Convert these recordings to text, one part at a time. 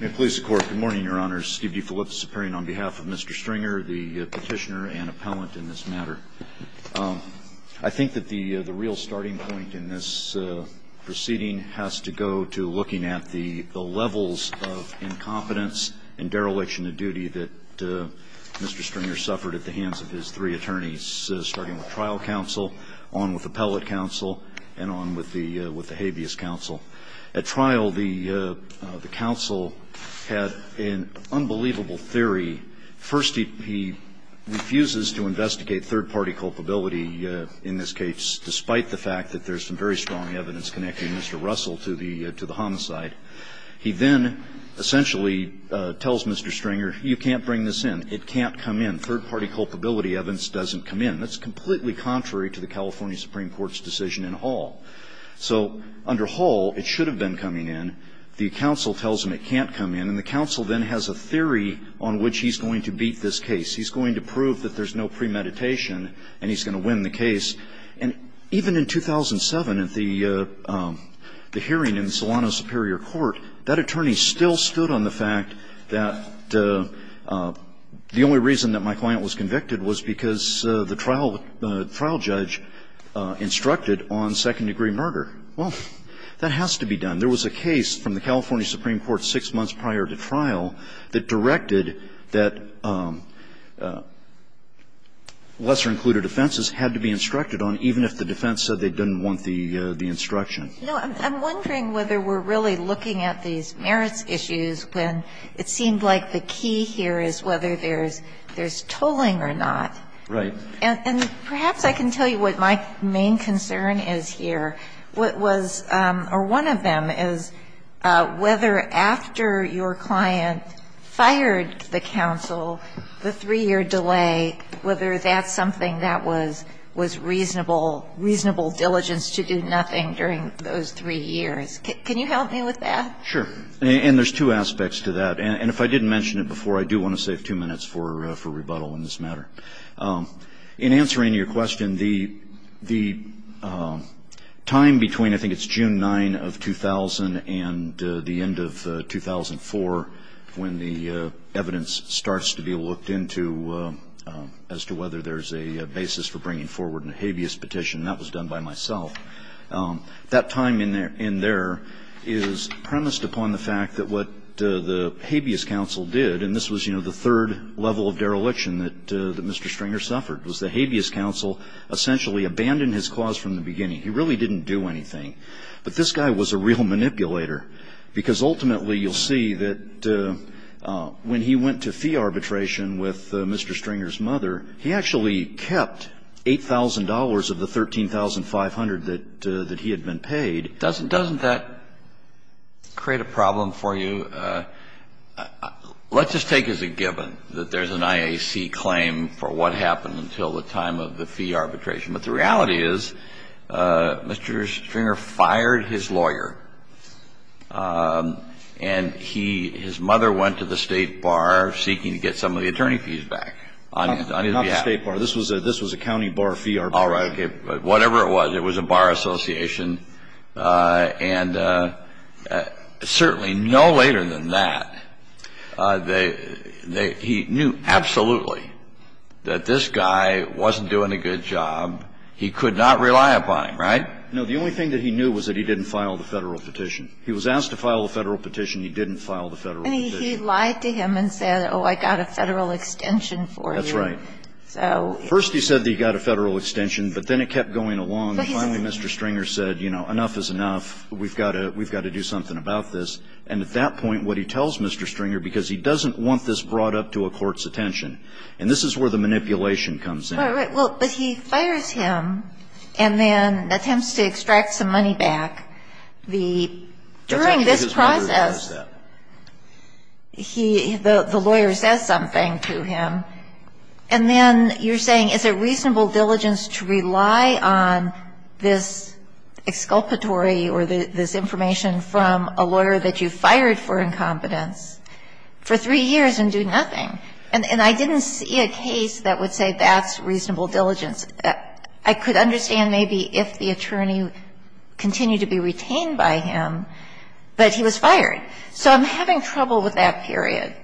Good morning, your honors. Steve D. Phillips appearing on behalf of Mr. Stringer, the petitioner and appellant in this matter. I think that the real starting point in this proceeding has to go to looking at the levels of incompetence and dereliction of duty that Mr. Stringer suffered at the hands of his three attorneys, starting with trial counsel, on with appellate counsel, and on with the habeas counsel. At trial, the counsel had an unbelievable theory. First, he refuses to investigate third-party culpability in this case, despite the fact that there's some very strong evidence connecting Mr. Russell to the homicide. He then essentially tells Mr. Stringer, you can't bring this in. It can't come in. Third-party culpability evidence doesn't come in. That's completely contrary to the California Supreme Court's decision in Hall. So under Hall, it should have been coming in. The counsel tells him it can't come in. And the counsel then has a theory on which he's going to beat this case. He's going to prove that there's no premeditation, and he's going to win the case. And even in 2007, at the hearing in Solano Superior Court, that attorney still stood on the fact that the only reason that my client was convicted was because the trial judge instructed on second-degree murder. Well, that has to be done. There was a case from the California Supreme Court six months prior to trial that directed that lesser-included offenses had to be instructed on, even if the defense said they didn't want the instruction. No, I'm wondering whether we're really looking at these merits issues when it seemed like the key here is whether there's tolling or not. Right. And perhaps I can tell you what my main concern is here. What was or one of them is whether after your client fired the counsel, the three-year delay, whether that's something that was reasonable, reasonable diligence to do nothing during those three years. Can you help me with that? Sure. And there's two aspects to that. And if I didn't mention it before, I do want to save two minutes for rebuttal in this matter. In answering your question, the time between I think it's June 9 of 2000 and the end of 2004, when the evidence starts to be looked into as to whether there's a basis for bringing forward a habeas petition, and that was done by myself, that time in there is premised upon the fact that what the habeas counsel did, and this was, you know, the third level of dereliction that Mr. Stringer suffered, was the habeas counsel essentially abandoned his clause from the beginning. He really didn't do anything. But this guy was a real manipulator, because ultimately you'll see that when he went to fee arbitration with Mr. Stringer's mother, he actually kept $8,000 of the $13,500 that he had been paid. Doesn't that create a problem for you? Let's just take as a given that there's an IAC claim for what happened until the time of the fee arbitration. But the reality is Mr. Stringer fired his lawyer, and he, his mother went to the State Bar seeking to get some of the attorney fees back on his behalf. Not the State Bar. This was a county bar fee arbitration. All right. But whatever it was, it was a bar association. And certainly no later than that, they, they, he knew absolutely that this guy wasn't doing a good job. He could not rely upon him, right? No. The only thing that he knew was that he didn't file the Federal petition. He was asked to file the Federal petition. He didn't file the Federal petition. And he lied to him and said, oh, I got a Federal extension for you. That's right. First he said that he got a Federal extension, but then it kept going along. Finally, Mr. Stringer said, you know, enough is enough. We've got to, we've got to do something about this. And at that point, what he tells Mr. Stringer, because he doesn't want this brought up to a court's attention, and this is where the manipulation comes in. Right, right. Well, but he fires him and then attempts to extract some money back. The, during this process, he, the lawyer says something to him. And then you're saying it's a reasonable diligence to rely on this exculpatory or this information from a lawyer that you fired for incompetence for three years and do nothing. And I didn't see a case that would say that's reasonable diligence. I could understand maybe if the attorney continued to be retained by him, but he was fired. So I'm having trouble with that period.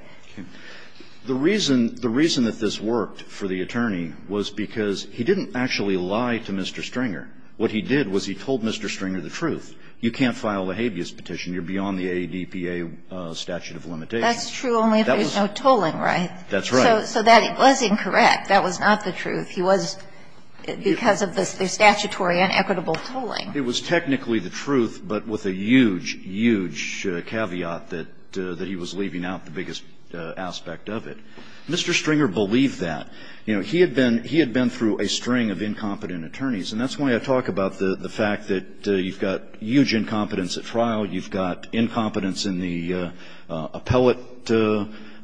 The reason, the reason that this worked for the attorney was because he didn't actually lie to Mr. Stringer. What he did was he told Mr. Stringer the truth. You can't file a habeas petition. You're beyond the ADPA statute of limitations. That's true only if there's no tolling, right? That's right. So that was incorrect. That was not the truth. He was, because of the statutory inequitable tolling. It was technically the truth, but with a huge, huge caveat that he was leaving out the biggest aspect of it. Mr. Stringer believed that. You know, he had been through a string of incompetent attorneys, and that's why I talk about the fact that you've got huge incompetence at trial, you've got incompetence in the appellate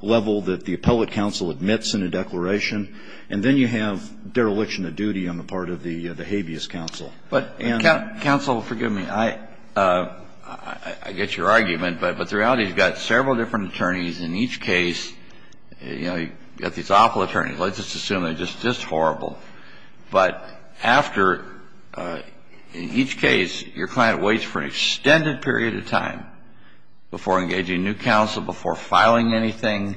level that the appellate counsel admits in a declaration, and then you have dereliction of duty on the part of the habeas counsel. But, counsel, forgive me. I get your argument, but the reality is you've got several different attorneys in each case. You know, you've got these awful attorneys. Let's just assume they're just this horrible. But after each case, your client waits for an extended period of time before engaging new counsel, before filing anything,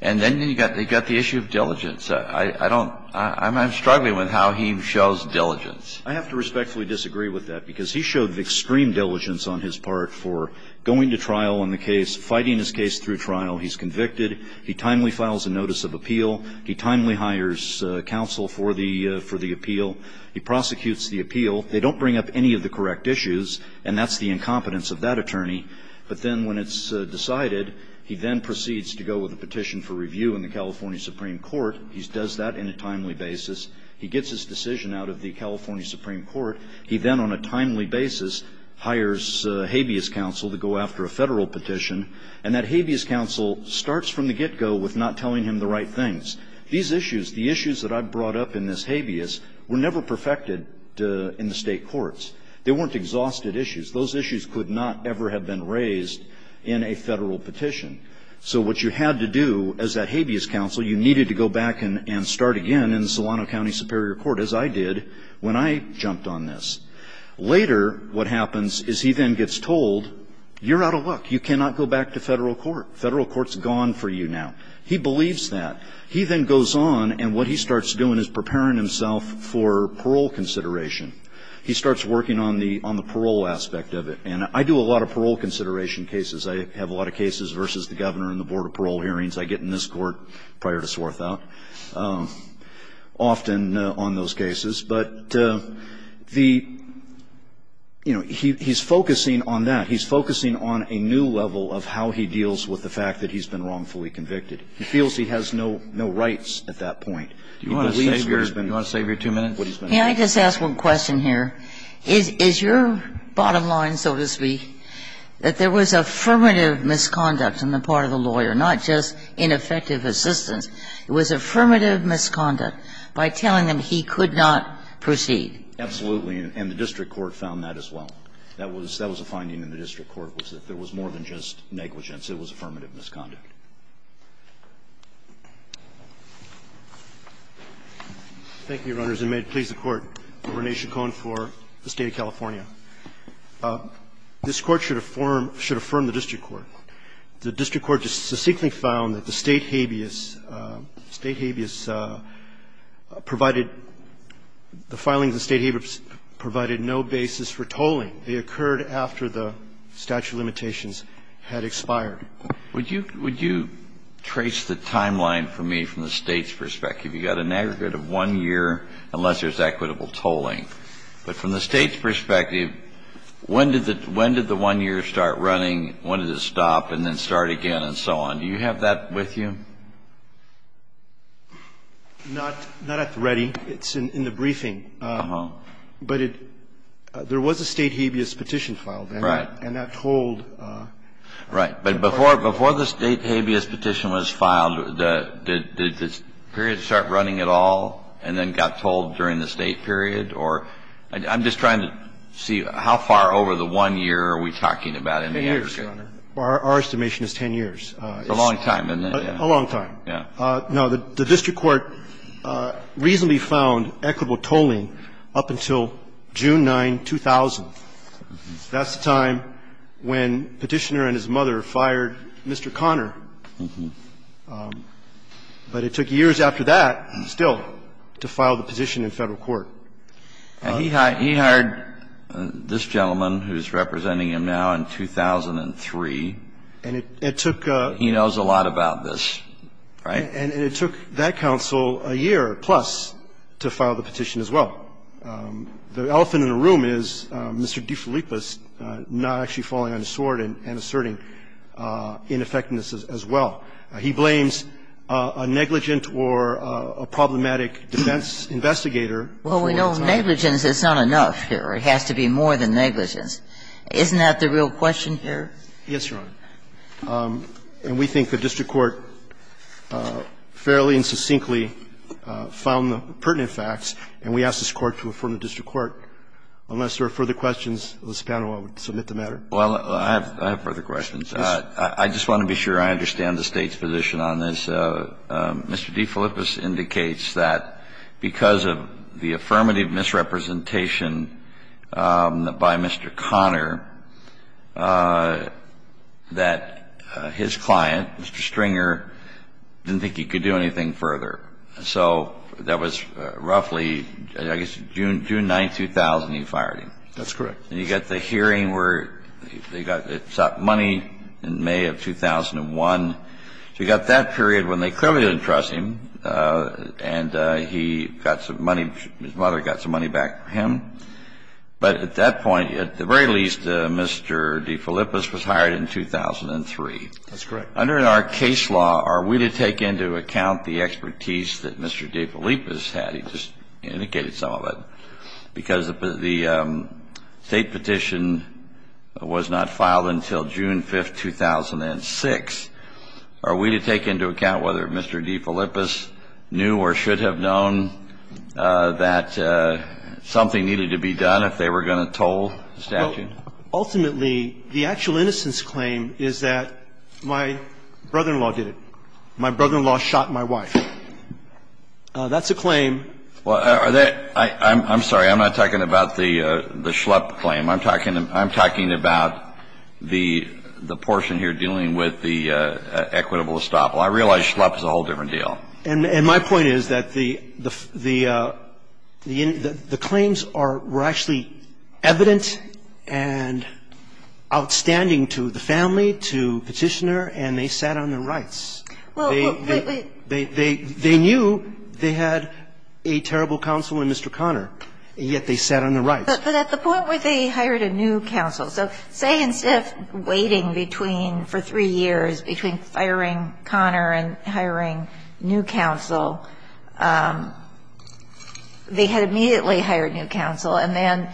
and then you've got the issue of diligence. I don't – I'm struggling with how he shows diligence. I have to respectfully disagree with that, because he showed extreme diligence on his part for going to trial on the case, fighting his case through trial. He's convicted. He timely files a notice of appeal. He timely hires counsel for the appeal. He prosecutes the appeal. They don't bring up any of the correct issues, and that's the incompetence of that attorney. But then when it's decided, he then proceeds to go with a petition for review in the California Supreme Court. He does that in a timely basis. He gets his decision out of the California Supreme Court. He then on a timely basis hires habeas counsel to go after a Federal petition, and that habeas counsel starts from the get-go with not telling him the right things. These issues, the issues that I've brought up in this habeas, were never perfected in the State courts. They weren't exhausted issues. Those issues could not ever have been raised in a Federal petition. So what you had to do as that habeas counsel, you needed to go back and start again in Solano County Superior Court, as I did when I jumped on this. Later, what happens is he then gets told, you're out of luck. You cannot go back to Federal court. Federal court's gone for you now. He believes that. He then goes on, and what he starts doing is preparing himself for parole consideration. He starts working on the parole aspect of it. And I do a lot of parole consideration cases. I have a lot of cases versus the Governor and the Board of Parole hearings. I get in this court prior to Swarthout. Often on those cases. But the, you know, he's focusing on that. He's focusing on a new level of how he deals with the fact that he's been wrongfully convicted. He feels he has no rights at that point. He believes what he's been doing. Can I just ask one question here? Is your bottom line, so to speak, that there was affirmative misconduct on the part of the lawyer, not just ineffective assistance? It was affirmative misconduct by telling him he could not proceed. Absolutely. And the district court found that as well. That was a finding in the district court, was that there was more than just negligence. It was affirmative misconduct. Thank you, Your Honors, and may it please the Court. Rene Chacon for the State of California. This Court should affirm the district court. The district court just succinctly found that the State habeas, State habeas provided the filings of the State habeas provided no basis for tolling. They occurred after the statute of limitations had expired. Would you trace the timeline for me from the State's perspective? You've got an aggregate of one year unless there's equitable tolling. But from the State's perspective, when did the one year start running? When did it stop and then start again and so on? Do you have that with you? Not at the ready. It's in the briefing. Uh-huh. But there was a State habeas petition filed. Right. And that tolled. Right. But before the State habeas petition was filed, did the period start running at all and then got tolled during the State period? I'm just trying to see how far over the one year are we talking about in the aggregate. Ten years, Your Honor. Our estimation is 10 years. It's a long time, isn't it? A long time. Yeah. Now, the district court reasonably found equitable tolling up until June 9, 2000. That's the time when Petitioner and his mother fired Mr. Connor. But it took years after that still to file the petition in Federal court. He hired this gentleman who's representing him now in 2003. And it took a ---- He knows a lot about this. Right? And it took that counsel a year plus to file the petition as well. The elephant in the room is Mr. DeFilippis not actually falling on his sword and asserting ineffectiveness as well. He blames a negligent or a problematic defense investigator. Well, we know negligence is not enough here. It has to be more than negligence. Isn't that the real question here? Yes, Your Honor. And we think the district court fairly and succinctly found the pertinent facts, and we ask this Court to affirm the district court. Unless there are further questions, Ms. Pano, I would submit the matter. Well, I have further questions. I just want to be sure I understand the State's position on this. Mr. DeFilippis indicates that because of the affirmative misrepresentation by Mr. Conner, that his client, Mr. Stringer, didn't think he could do anything further. So that was roughly, I guess, June 9, 2000, you fired him. That's correct. And you got the hearing where they got money in May of 2001. So you got that period when they clearly didn't trust him, and he got some money his mother got some money back from him. But at that point, at the very least, Mr. DeFilippis was hired in 2003. That's correct. Under our case law, are we to take into account the expertise that Mr. DeFilippis had? He just indicated some of it. Because the State petition was not filed until June 5, 2006. Are we to take into account whether Mr. DeFilippis knew or should have known that something needed to be done if they were going to toll the statute? Ultimately, the actual innocence claim is that my brother-in-law did it. My brother-in-law shot my wife. That's a claim. Well, I'm sorry. I'm not talking about the Schlepp claim. I'm talking about the portion here dealing with the equitable estoppel. I realize Schlepp is a whole different deal. And my point is that the claims were actually evident and outstanding to the family, to Petitioner, and they sat on their rights. They knew they had a terrible counsel in Mr. Conner, yet they sat on their rights. But at the point where they hired a new counsel. So say instead of waiting between, for three years, between firing Conner and hiring new counsel, they had immediately hired new counsel. And then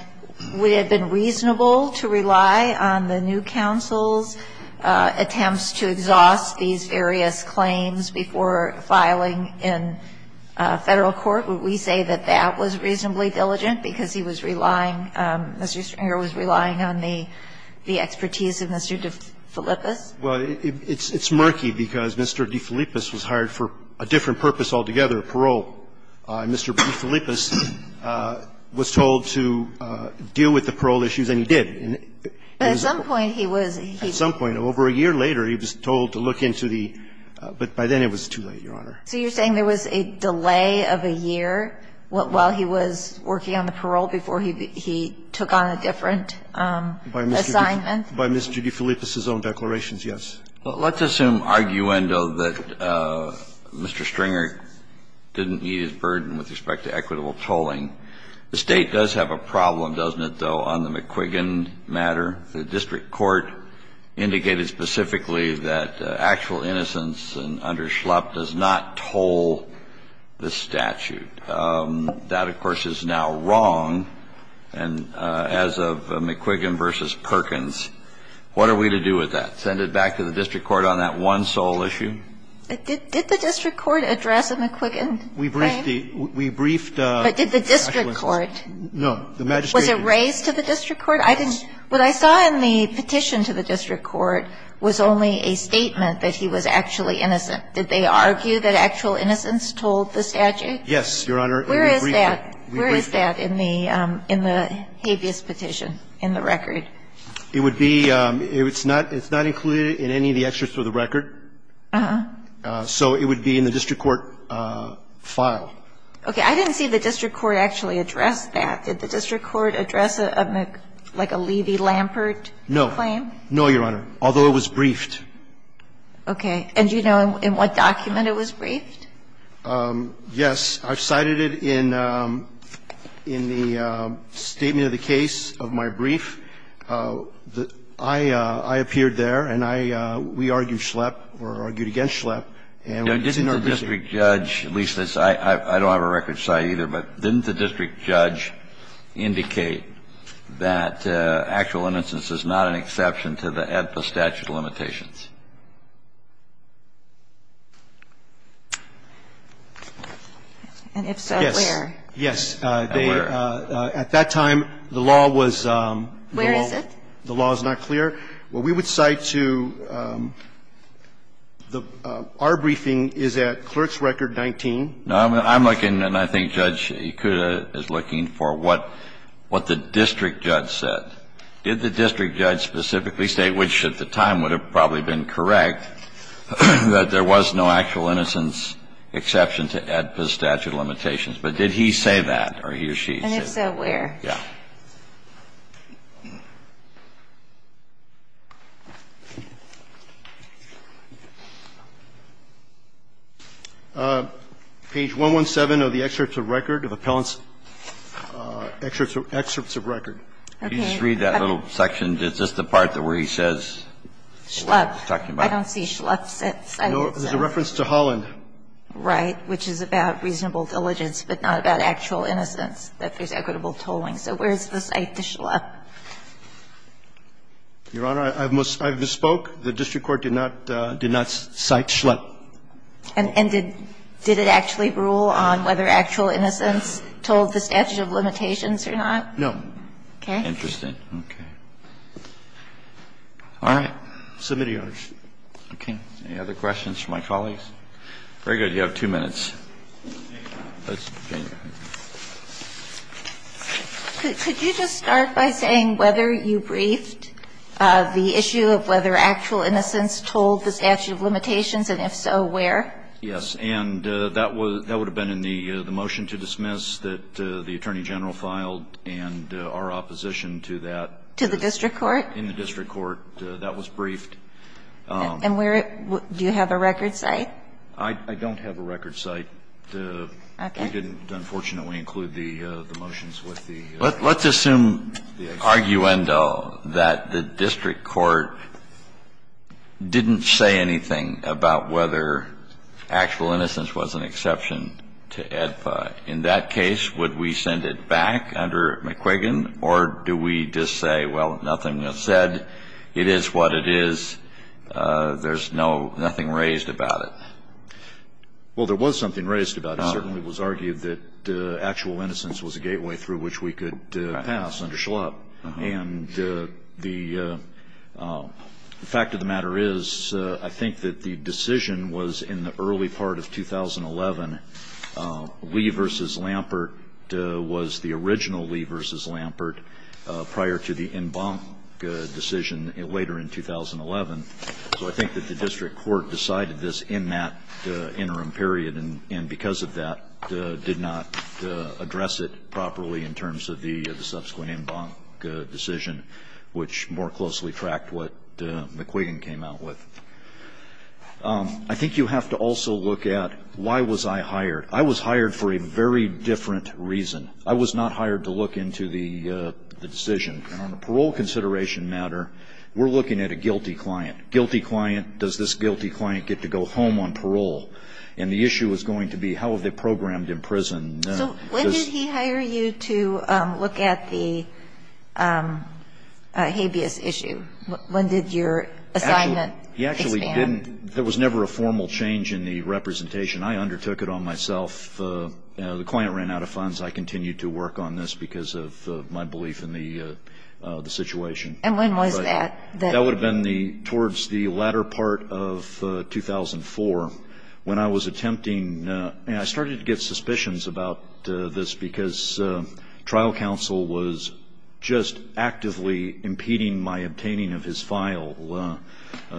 would it have been reasonable to rely on the new counsel's attempts to exhaust these various claims before filing in Federal court? Would we say that that was reasonably diligent, because he was relying, Mr. Stringer was relying on the expertise of Mr. DeFilippis? Well, it's murky, because Mr. DeFilippis was hired for a different purpose altogether, parole. Mr. DeFilippis was told to deal with the parole issues, and he did. But at some point he was. At some point, over a year later, he was told to look into the – but by then it was too late, Your Honor. So you're saying there was a delay of a year while he was working on the parole before he took on a different assignment? By Mr. DeFilippis' own declarations, yes. Well, let's assume arguendo that Mr. Stringer didn't meet his burden with respect to equitable tolling. The State does have a problem, doesn't it, though, on the McQuiggan matter. The district court indicated specifically that actual innocence under Schlupp does not toll the statute. That, of course, is now wrong, and as of McQuiggan v. Perkins, what are we to do with that? Send it back to the district court on that one sole issue? Did the district court address the McQuiggan claim? We briefed the – we briefed the – But did the district court? No. The magistrate – Was it raised to the district court? I didn't – what I saw in the petition to the district court was only a statement that he was actually innocent. Did they argue that actual innocence told the statute? Yes, Your Honor, and we briefed it. Where is that in the habeas petition in the record? It would be – it's not included in any of the extras for the record. Uh-huh. So it would be in the district court file. Okay. I didn't see the district court actually address that. Did the district court address a Mc – like a Levy-Lampert claim? No. No, Your Honor, although it was briefed. Okay. And do you know in what document it was briefed? Yes. I cited it in the statement of the case of my brief. I appeared there, and I – we argued Schlepp or argued against Schlepp. And it's in our briefing. Now, didn't the district judge – at least, I don't have a record cite either, but didn't the district judge indicate that actual innocence is not an exception to the statute of limitations? And if so, where? Yes. At that time, the law was – the law was not clear. Where is it? Well, we would cite to – our briefing is at Clerk's Record 19. No, I'm looking, and I think Judge Ikuda is looking for what the district judge said. Did the district judge specifically say, which at the time would have probably been correct, that there was no actual innocence exception to AEDPA's statute of limitations? But did he say that, or he or she say that? And if so, where? Yes. Page 117 of the excerpts of record of appellants – excerpts of record. Okay. Just read that little section. Is this the part where he says what he's talking about? Schlepp. I don't see Schlepp cited, so. No, there's a reference to Holland. Right, which is about reasonable diligence, but not about actual innocence, that there's equitable tolling. So where's the cite to Schlepp? Your Honor, I've misspoke. The district court did not cite Schlepp. And did it actually rule on whether actual innocence told the statute of limitations or not? No. Okay. Interesting. Okay. All right. Submittee orders. Okay. Any other questions for my colleagues? Very good. You have two minutes. Could you just start by saying whether you briefed the issue of whether actual innocence told the statute of limitations, and if so, where? Yes. And that would have been in the motion to dismiss that the Attorney General filed and our opposition to that. To the district court? In the district court. That was briefed. And where – do you have a record cite? I don't have a record cite. We didn't, unfortunately, include the motions with the – Let's assume, arguendo, that the district court didn't say anything about whether actual innocence was an exception to AEDPA. In that case, would we send it back under McQuiggan? Or do we just say, well, nothing is said, it is what it is, there's no – nothing raised about it? Well, there was something raised about it. It certainly was argued that actual innocence was a gateway through which we could pass under Schlapp. And the fact of the matter is, I think that the decision was in the early part of 2011. Lee v. Lampert was the original Lee v. Lampert prior to the Embank decision later in 2011. So I think that the district court decided this in that interim period and because of that did not address it properly in terms of the subsequent Embank decision, which more closely tracked what McQuiggan came out with. I think you have to also look at why was I hired. I was hired for a very different reason. I was not hired to look into the decision. And on a parole consideration matter, we're looking at a guilty client. Guilty client, does this guilty client get to go home on parole? And the issue is going to be how are they programmed in prison? So when did he hire you to look at the habeas issue? When did your assignment expand? He actually didn't – there was never a formal change in the representation. The client ran out of funds. I continued to work on this because of my belief in the situation. And when was that? That would have been towards the latter part of 2004 when I was attempting – I started to get suspicions about this because trial counsel was just actively impeding my obtaining of his file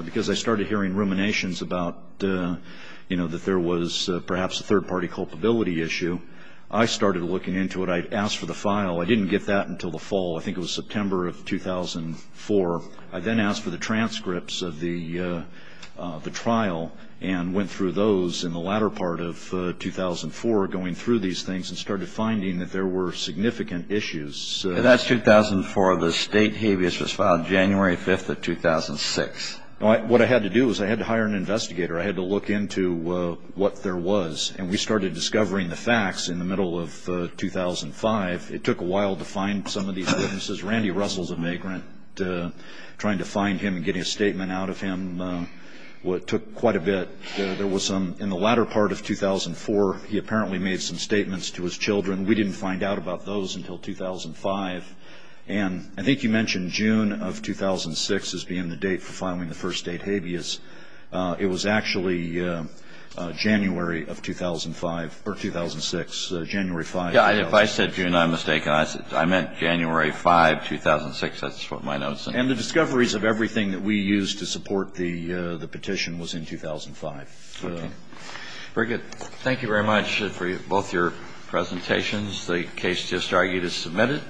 because I started hearing ruminations about that there was perhaps a third-party culpability issue. I started looking into it. I asked for the file. I didn't get that until the fall. I think it was September of 2004. I then asked for the transcripts of the trial and went through those in the latter part of 2004, going through these things and started finding that there were significant issues. And that's 2004. The state habeas was filed January 5th of 2006. What I had to do was I had to hire an investigator. I had to look into what there was. And we started discovering the facts in the middle of 2005. It took a while to find some of these witnesses. Randy Russell is a migrant. Trying to find him and getting a statement out of him took quite a bit. There was some – in the latter part of 2004, he apparently made some statements to his children. We didn't find out about those until 2005. And I think you mentioned June of 2006 as being the date for filing the first state habeas. It was actually January of 2005 – or 2006, January 5th, 2006. If I said June, I'm mistaken. I meant January 5th, 2006. That's what my notes said. And the discoveries of everything that we used to support the petition was in 2005. Okay. Very good. Thank you very much for both your presentations. The case just argued is submitted.